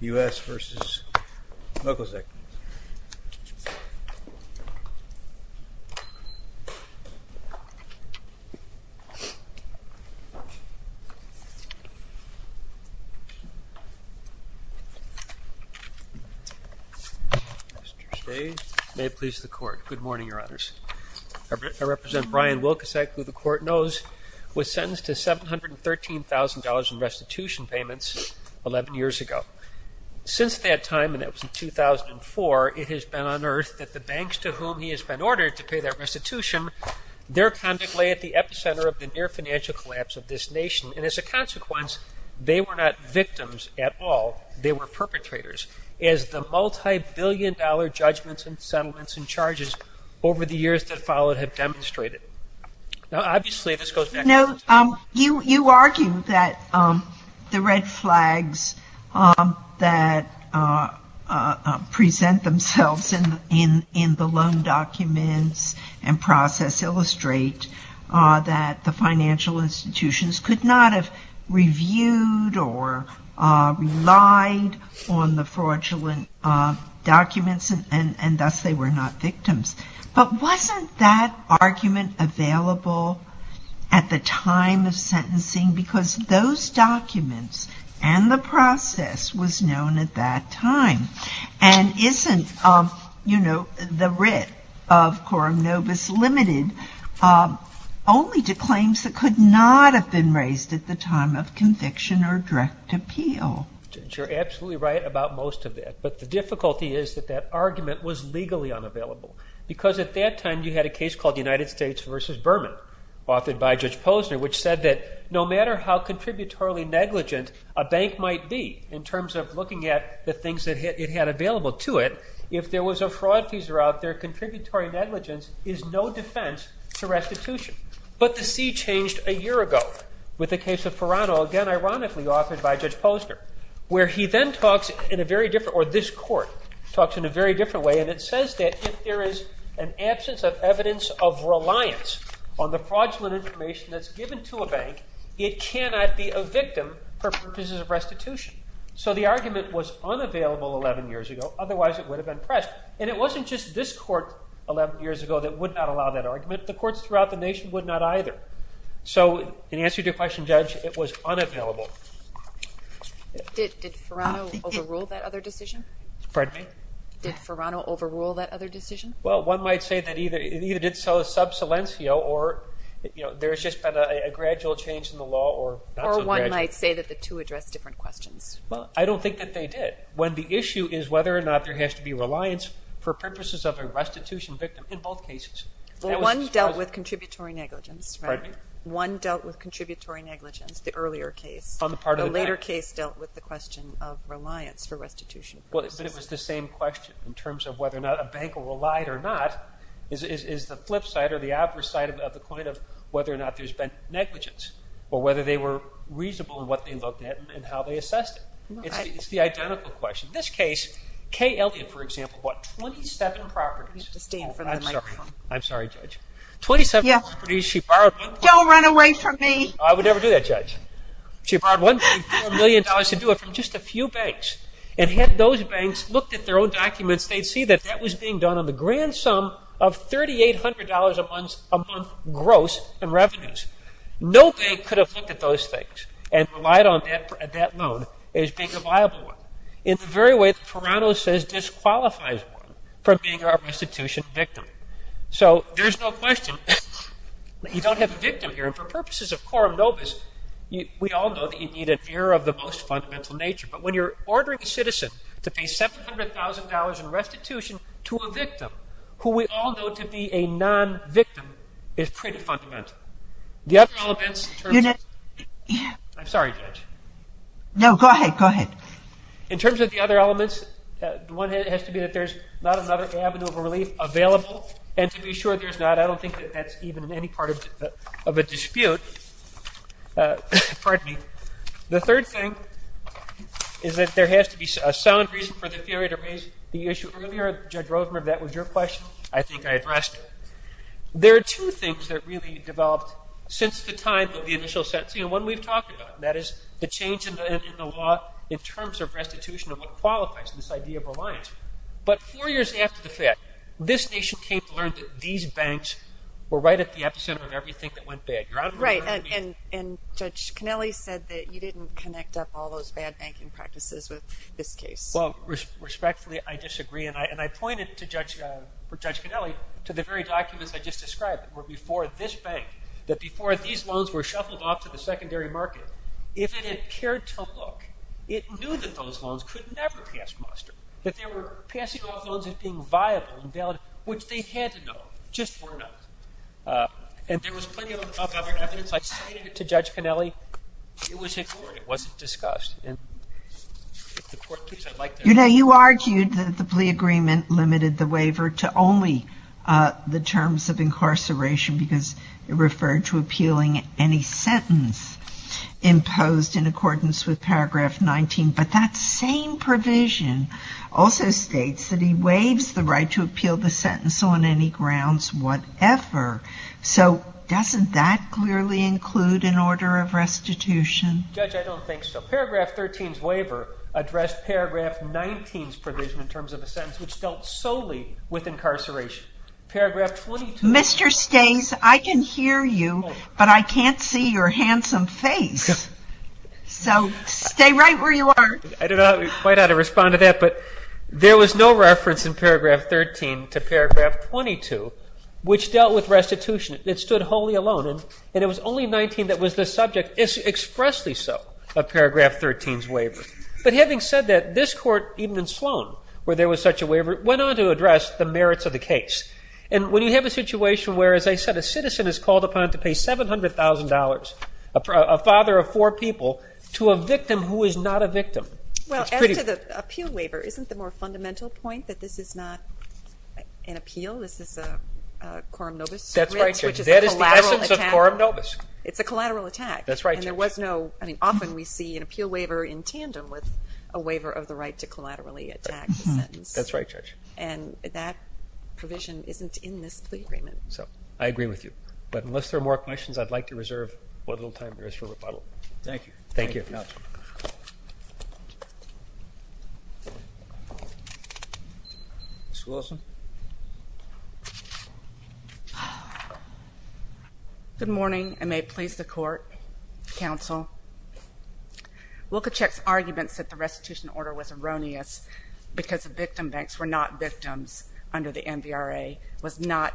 U.S. v. Wilkosek Good morning, Your Honors. I represent Brian Wilkosek, who the Court knows was sentenced to $713,000 in restitution payments 11 years ago. Since that time, and that was in 2004, it has been unearthed that the banks to whom he has been ordered to pay that restitution, their conduct lay at the epicenter of the near financial collapse of this nation. And as a consequence, they were not victims at all, they were perpetrators, as the multi-billion dollar judgments and settlements and charges over the years that followed have demonstrated. You argue that the red flags that present themselves in the loan documents and process illustrate that the financial institutions could not have reviewed or relied on the fraudulent documents and thus they were not victims. But wasn't that argument available at the time of sentencing because those documents and the process was known at that time? And isn't the writ of Quorum Novus Limited only to claims that could not have been raised at the time of conviction or direct appeal? You're absolutely right about most of that, but the difficulty is that that argument was legally unavailable because at that time you had a case called United States v. Berman, authored by Judge Posner, which said that no matter how contributory negligent a bank might be in terms of looking at the things it had available to it, if there was a fraud teaser out there, contributory negligence is no defense to restitution. But the sea changed a year ago with the case of Perano, again ironically authored by Judge Posner, where he then talks in a very different way, or this court talks in a very different way, and it says that if there is an absence of evidence of reliance on the fraudulent information that's given to a bank, it cannot be a victim for purposes of restitution. So the argument was unavailable 11 years ago, otherwise it would have been pressed. And it wasn't just this court 11 years ago that would not allow that argument. The courts throughout the nation would not either. So in answer to your question, Judge, it was unavailable. Did Perano overrule that other decision? Pardon me? Did Perano overrule that other decision? Well, one might say that it either did so sub silencio or there's just been a gradual change in the law or not so gradual. Or one might say that the two addressed different questions. Well, I don't think that they did. When the issue is whether or not there has to be reliance for purposes of a restitution victim in both cases. Well, one dealt with contributory negligence. Pardon me? One dealt with contributory negligence, the earlier case. On the part of the bank. The later case dealt with the question of reliance for restitution purposes. But it was the same question in terms of whether or not a bank relied or not is the flip side or the opposite side of the coin of whether or not there's been negligence or whether they were reasonable in what they looked at and how they assessed it. It's the identical question. In this case, Kay Elliott, for example, bought 27 properties. You have to stand for the microphone. I'm sorry, Judge. 27 properties she borrowed. Don't run away from me. I would never do that, Judge. She borrowed $1.4 million to do it from just a few banks. And had those banks looked at their own documents, they'd see that that was being done on the grand sum of $3,800 a month gross in revenues. No bank could have looked at those things and relied on that loan as being a viable one. In the very way that Perano says disqualifies one from being a restitution victim. So there's no question that you don't have a victim here. And for purposes of quorum nobis, we all know that you need an ear of the most fundamental nature. But when you're ordering a citizen to pay $700,000 in restitution to a victim, who we all know to be a non-victim, is pretty fundamental. I'm sorry, Judge. No, go ahead. Go ahead. In terms of the other elements, one has to be that there's not another avenue of relief available. And to be sure there's not, I don't think that that's even in any part of a dispute. The third thing is that there has to be a sound reason for the theory to raise the issue. Earlier, Judge Rosenberg, that was your question, I think I addressed it. There are two things that really developed since the time of the initial sentencing, and one we've talked about, and that is the change in the law in terms of restitution and what qualifies this idea of reliance. But four years after the fact, this nation came to learn that these banks were right at the epicenter of everything that went bad. Right. And Judge Conelli said that you didn't connect up all those bad banking practices with this case. Well, respectfully, I disagree. And I pointed to Judge Conelli to the very documents I just described that were before this bank, that before these loans were shuffled off to the secondary market, if it had cared to look, it knew that those loans could never pass Monster, that they were passing off loans as being viable and valid, which they had to know, just were not. And there was plenty of other evidence. I cited it to Judge Conelli. It was ignored. It wasn't discussed. You know, you argued that the plea agreement limited the waiver to only the terms of incarceration because it referred to appealing any sentence imposed in accordance with paragraph 19. But that same provision also states that he waives the right to appeal the sentence on any grounds whatever. So doesn't that clearly include an order of restitution? Judge, I don't think so. Paragraph 13's waiver addressed paragraph 19's provision in terms of a sentence which dealt solely with incarceration. Mr. Stays, I can hear you, but I can't see your handsome face. So stay right where you are. I don't know quite how to respond to that, but there was no reference in paragraph 13 to paragraph 22, which dealt with restitution. It stood wholly alone. And it was only 19 that was the subject. It's expressly so, a paragraph 13's waiver. But having said that, this court, even in Sloan, where there was such a waiver, went on to address the merits of the case. And when you have a situation where, as I said, a citizen is called upon to pay $700,000, a father of four people, to a victim who is not a victim. Well, as to the appeal waiver, isn't the more fundamental point that this is not an appeal? This is a coram nobis? That's right, Judge. That is the essence of coram nobis. It's a collateral attack. That's right, Judge. And there was no, I mean, often we see an appeal waiver in tandem with a waiver of the right to collaterally attack the sentence. That's right, Judge. And that provision isn't in this plea agreement. I agree with you. But unless there are more questions, I'd like to reserve a little time for us to rebuttal. Thank you. Thank you. Ms. Wilson. Good morning, and may it please the Court, Counsel. Lukachek's arguments that the restitution order was erroneous because the victim banks were not victims under the MVRA was not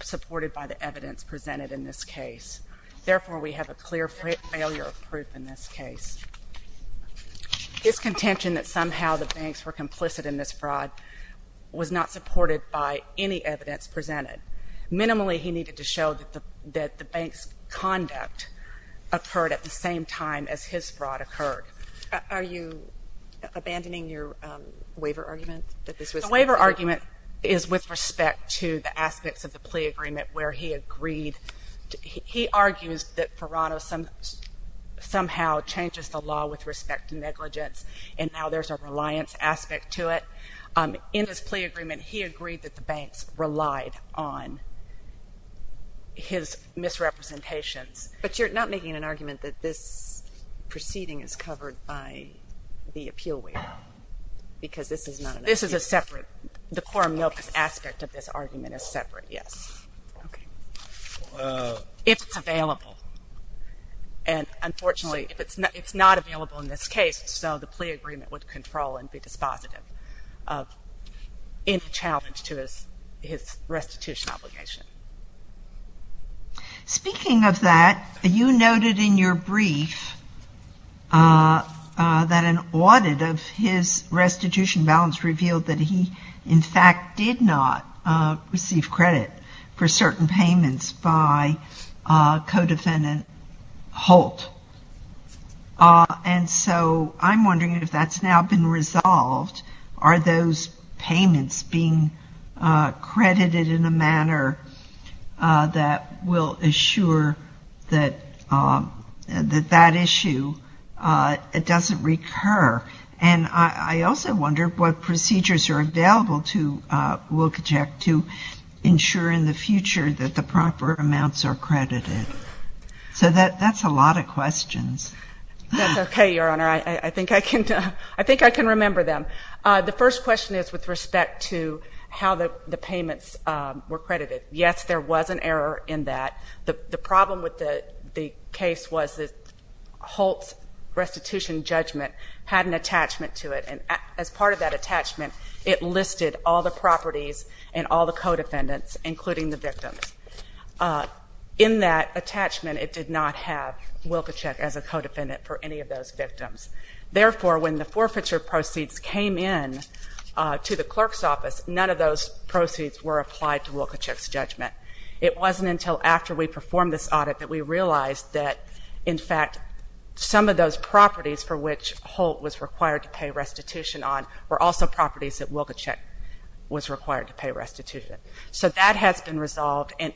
supported by the evidence presented in this case. Therefore, we have a clear failure of proof in this case. His contention that somehow the banks were complicit in this fraud was not supported by any evidence presented. Minimally, he needed to show that the bank's conduct occurred at the same time as his fraud occurred. Are you abandoning your waiver argument? The waiver argument is with respect to the aspects of the plea agreement where he agreed, he argues that Ferrano somehow changes the law with respect to negligence and now there's a reliance aspect to it. In his plea agreement, he agreed that the banks relied on his misrepresentations. But you're not making an argument that this proceeding is covered by the appeal waiver because this is not an appeal waiver? The quorum notice aspect of this argument is separate, yes. If it's available. And unfortunately, if it's not available in this case, so the plea agreement would control and be dispositive of any challenge to his restitution obligation. Speaking of that, you noted in your brief that an audit of his restitution balance revealed that he, in fact, did not receive credit for certain payments by co-defendant Holt. And so I'm wondering if that's now been resolved. Are those payments being credited in a manner that will assure that that issue doesn't recur? And I also wonder what procedures are available to Wilkojec to ensure in the future that the proper amounts are credited. So that's a lot of questions. That's okay, Your Honor. I think I can remember them. The first question is with respect to how the payments were credited. Yes, there was an error in that. The problem with the case was that Holt's restitution judgment had an attachment to it. And as part of that attachment, it listed all the properties and all the co-defendants, including the victims. In that attachment, it did not have Wilkojec as a co-defendant for any of those victims. Therefore, when the forfeiture proceeds came in to the clerk's office, none of those proceeds were applied to Wilkojec's judgment. It wasn't until after we performed this audit that we realized that, in fact, some of those properties for which Holt was required to pay restitution on were also properties that Wilkojec was required to pay restitution. So that has been resolved. And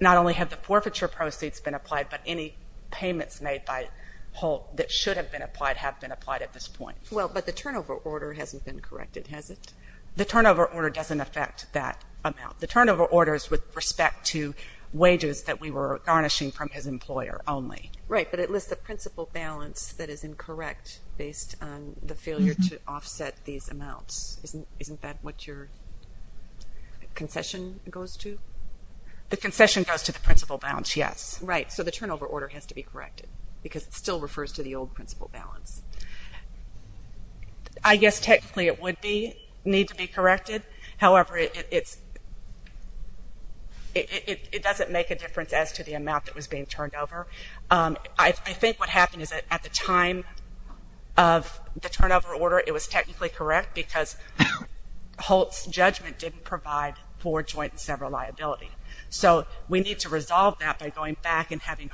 not only have the forfeiture proceeds been applied, but any payments made by Holt that should have been applied have been applied at this point. Well, but the turnover order hasn't been corrected, has it? The turnover order doesn't affect that amount. The turnover order is with respect to wages that we were garnishing from his employer only. Right, but it lists a principal balance that is incorrect based on the failure to offset these amounts. Isn't that what your concession goes to? The concession goes to the principal balance, yes. Right, so the turnover order has to be corrected because it still refers to the old principal balance. I guess technically it would need to be corrected. However, it doesn't make a difference as to the amount that was being turned over. I think what happened is that at the time of the turnover order, it was technically correct because Holt's judgment didn't provide for joint and sever liability. So we need to resolve that by going back and having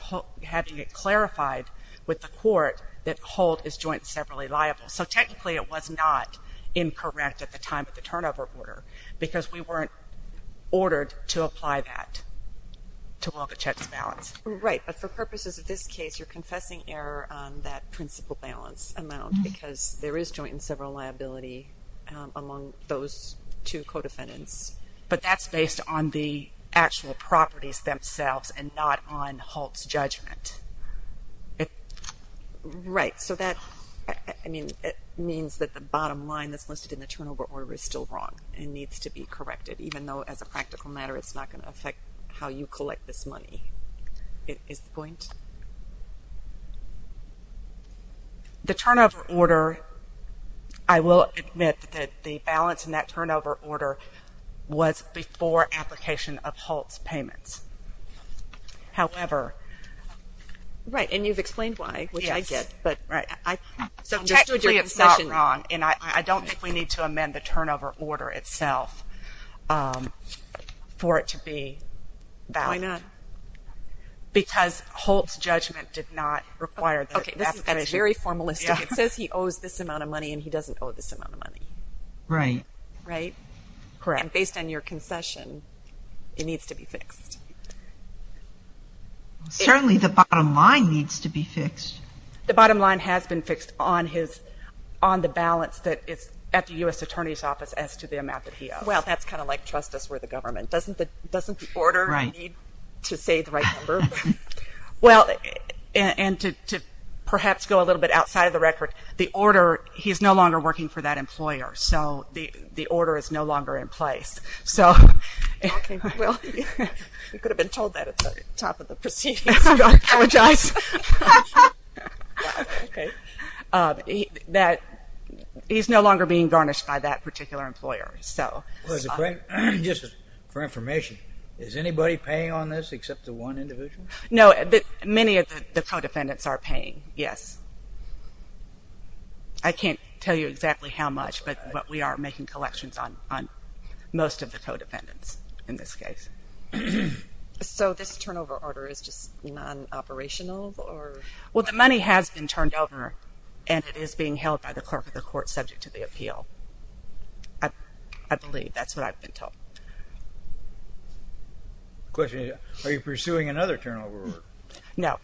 it clarified with the court that Holt is joint and severly liable. So technically it was not incorrect at the time of the turnover order because we weren't ordered to apply that to Wilkojec's balance. Right, but for purposes of this case, you're confessing error on that principal balance amount because there is joint and sever liability among those two co-defendants, but that's based on the actual properties themselves and not on Holt's judgment. Right, so that means that the bottom line that's listed in the turnover order is still wrong and needs to be corrected, even though as a practical matter, it's not going to affect how you collect this money. Is that the point? The turnover order, I will admit that the balance in that turnover order was before application of Holt's payments. However... Right, and you've explained why, which I get. Yes, but technically it's not wrong, and I don't think we need to amend the turnover order itself for it to be valid. Why not? Because Holt's judgment did not require that. Okay, that's very formalistic. It says he owes this amount of money, and he doesn't owe this amount of money. Right. Right? Correct. And based on your concession, it needs to be fixed. Certainly the bottom line needs to be fixed. The bottom line has been fixed on the balance that is at the U.S. Attorney's office as to the amount that he owes. Well, that's kind of like trust us, we're the government. Doesn't the order need to say the right number? Well, and to perhaps go a little bit outside of the record, the order, he's no longer working for that employer, so the order is no longer in place. Okay, well, you could have been told that at the top of the proceedings. I apologize. He's no longer being garnished by that particular employer. Just for information, is anybody paying on this except the one individual? No, many of the co-defendants are paying, yes. I can't tell you exactly how much, but we are making collections on most of the co-defendants in this case. So this turnover order is just non-operational? Well, the money has been turned over, and it is being held by the clerk of the court subject to the appeal. I believe that's what I've been told. The question is, are you pursuing another turnover order? No.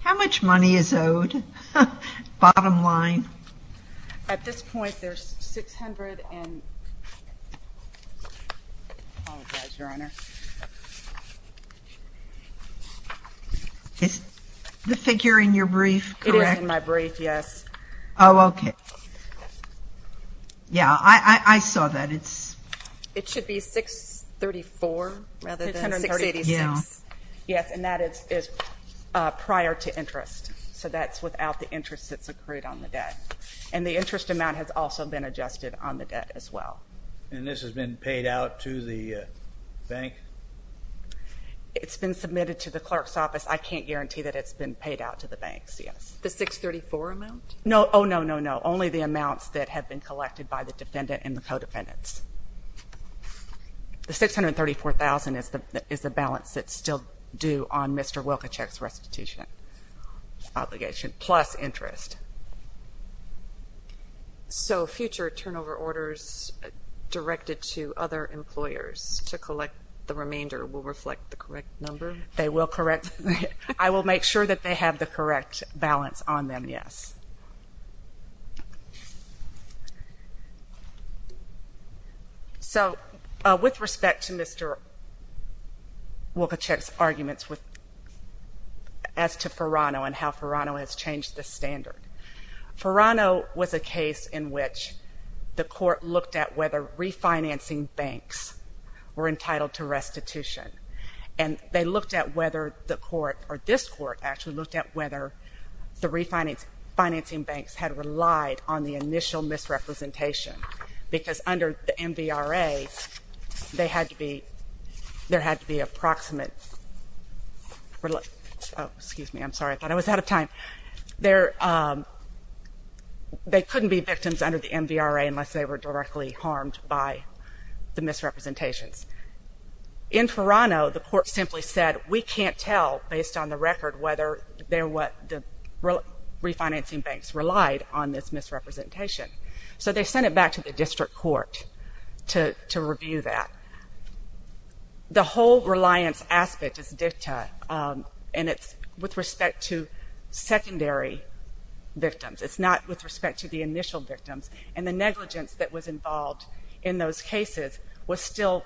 How much money is owed, bottom line? At this point, there's 600. I apologize, Your Honor. Is the figure in your brief correct? It is in my brief, yes. Oh, okay. Yeah, I saw that. It should be 634 rather than 686. Yes, and that is prior to interest, so that's without the interest that's accrued on the debt. And the interest amount has also been adjusted on the debt as well. And this has been paid out to the bank? It's been submitted to the clerk's office. I can't guarantee that it's been paid out to the banks, yes. The 634 amount? No, oh, no, no, no, only the amounts that have been collected by the defendant and the co-defendants. The 634,000 is the balance that's still due on Mr. Wilkichek's restitution obligation, plus interest. So future turnover orders directed to other employers to collect the remainder will reflect the correct number? They will correct. I will make sure that they have the correct balance on them, yes. So with respect to Mr. Wilkichek's arguments as to Ferrano and how Ferrano has changed the standard, Ferrano was a case in which the court looked at whether refinancing banks were entitled to restitution. And they looked at whether the court, or this court, actually looked at whether the refinancing banks had relied on the initial misrepresentation because under the MVRA, they had to be, there had to be approximate, oh, excuse me, I'm sorry, I thought I was out of time. They couldn't be victims under the MVRA unless they were directly harmed by the misrepresentations. In Ferrano, the court simply said, we can't tell based on the record whether they're what the refinancing banks relied on this misrepresentation. So they sent it back to the district court to review that. The whole reliance aspect is dicta, and it's with respect to secondary victims. It's not with respect to the initial victims. And the negligence that was involved in those cases was still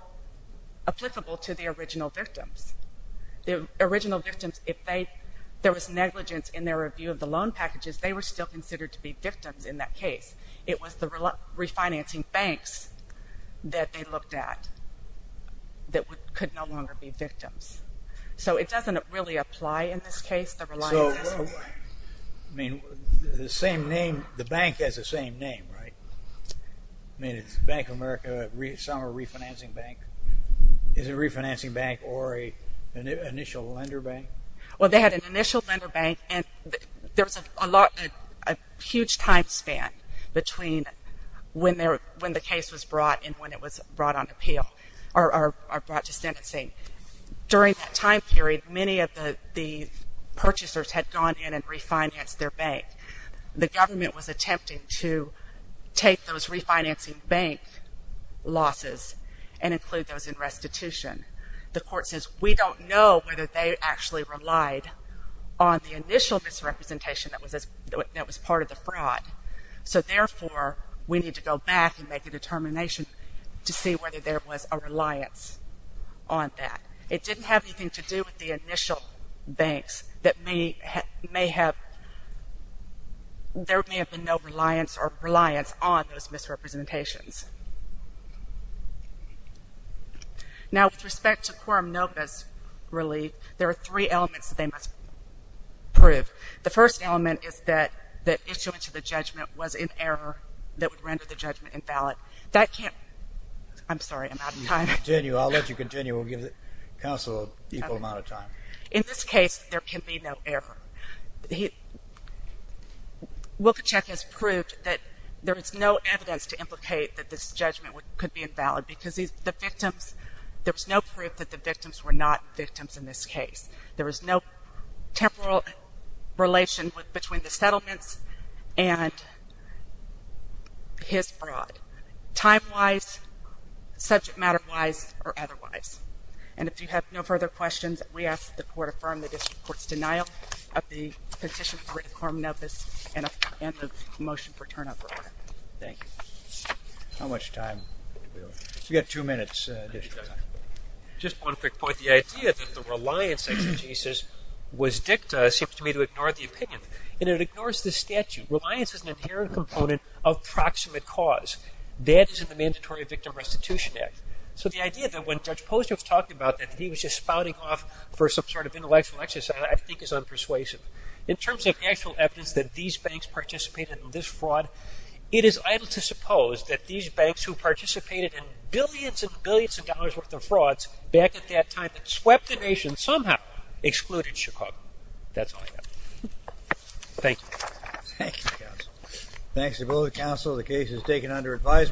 applicable to the original victims. The original victims, if there was negligence in their review of the loan packages, they were still considered to be victims in that case. It was the refinancing banks that they looked at that could no longer be victims. So it doesn't really apply in this case, the reliance aspect. So, I mean, the same name, the bank has the same name, right? I mean, it's Bank of America Summer Refinancing Bank. Is it a refinancing bank or an initial lender bank? Well, they had an initial lender bank, and there was a huge time span between when the case was brought and when it was brought on appeal or brought to sentencing. During that time period, many of the purchasers had gone in and refinanced their bank. The government was attempting to take those refinancing bank losses and include those in restitution. The court says, we don't know whether they actually relied on the initial misrepresentation that was part of the fraud. So, therefore, we need to go back and make a determination to see whether there was a reliance on that. It didn't have anything to do with the initial banks that may have been no reliance or reliance on those misrepresentations. Now, with respect to quorum novus relief, there are three elements that they must prove. The first element is that the issuance of the judgment was in error that would render the judgment invalid. That can't be. I'm sorry. I'm out of time. Continue. I'll let you continue. We'll give counsel an equal amount of time. In this case, there can be no error. Wilkichek has proved that there is no evidence to implicate that this judgment could be invalid because the victims, there was no proof that the victims were not victims in this case. There was no temporal relation between the settlements and his fraud, time-wise, subject matter-wise, or otherwise. And if you have no further questions, we ask that the court affirm the petition for a quorum novus and the motion for turnover. Thank you. How much time do we have? You've got two minutes additional time. Just one quick point. The idea that the reliance exegesis was dicta seems to me to ignore the opinion, and it ignores the statute. Reliance is an inherent component of proximate cause. That is in the Mandatory Victim Restitution Act. So the idea that when Judge Posner was talking about that he was just spouting off for some sort of intellectual exercise I think is unpersuasive. In terms of actual evidence that these banks participated in this fraud, it is idle to suppose that these banks who participated in billions and billions of dollars worth of frauds back at that time that swept the nation somehow excluded Chicago. That's all I have. Thank you. Thank you, counsel. Thanks to both counsel. The case is taken under advisement.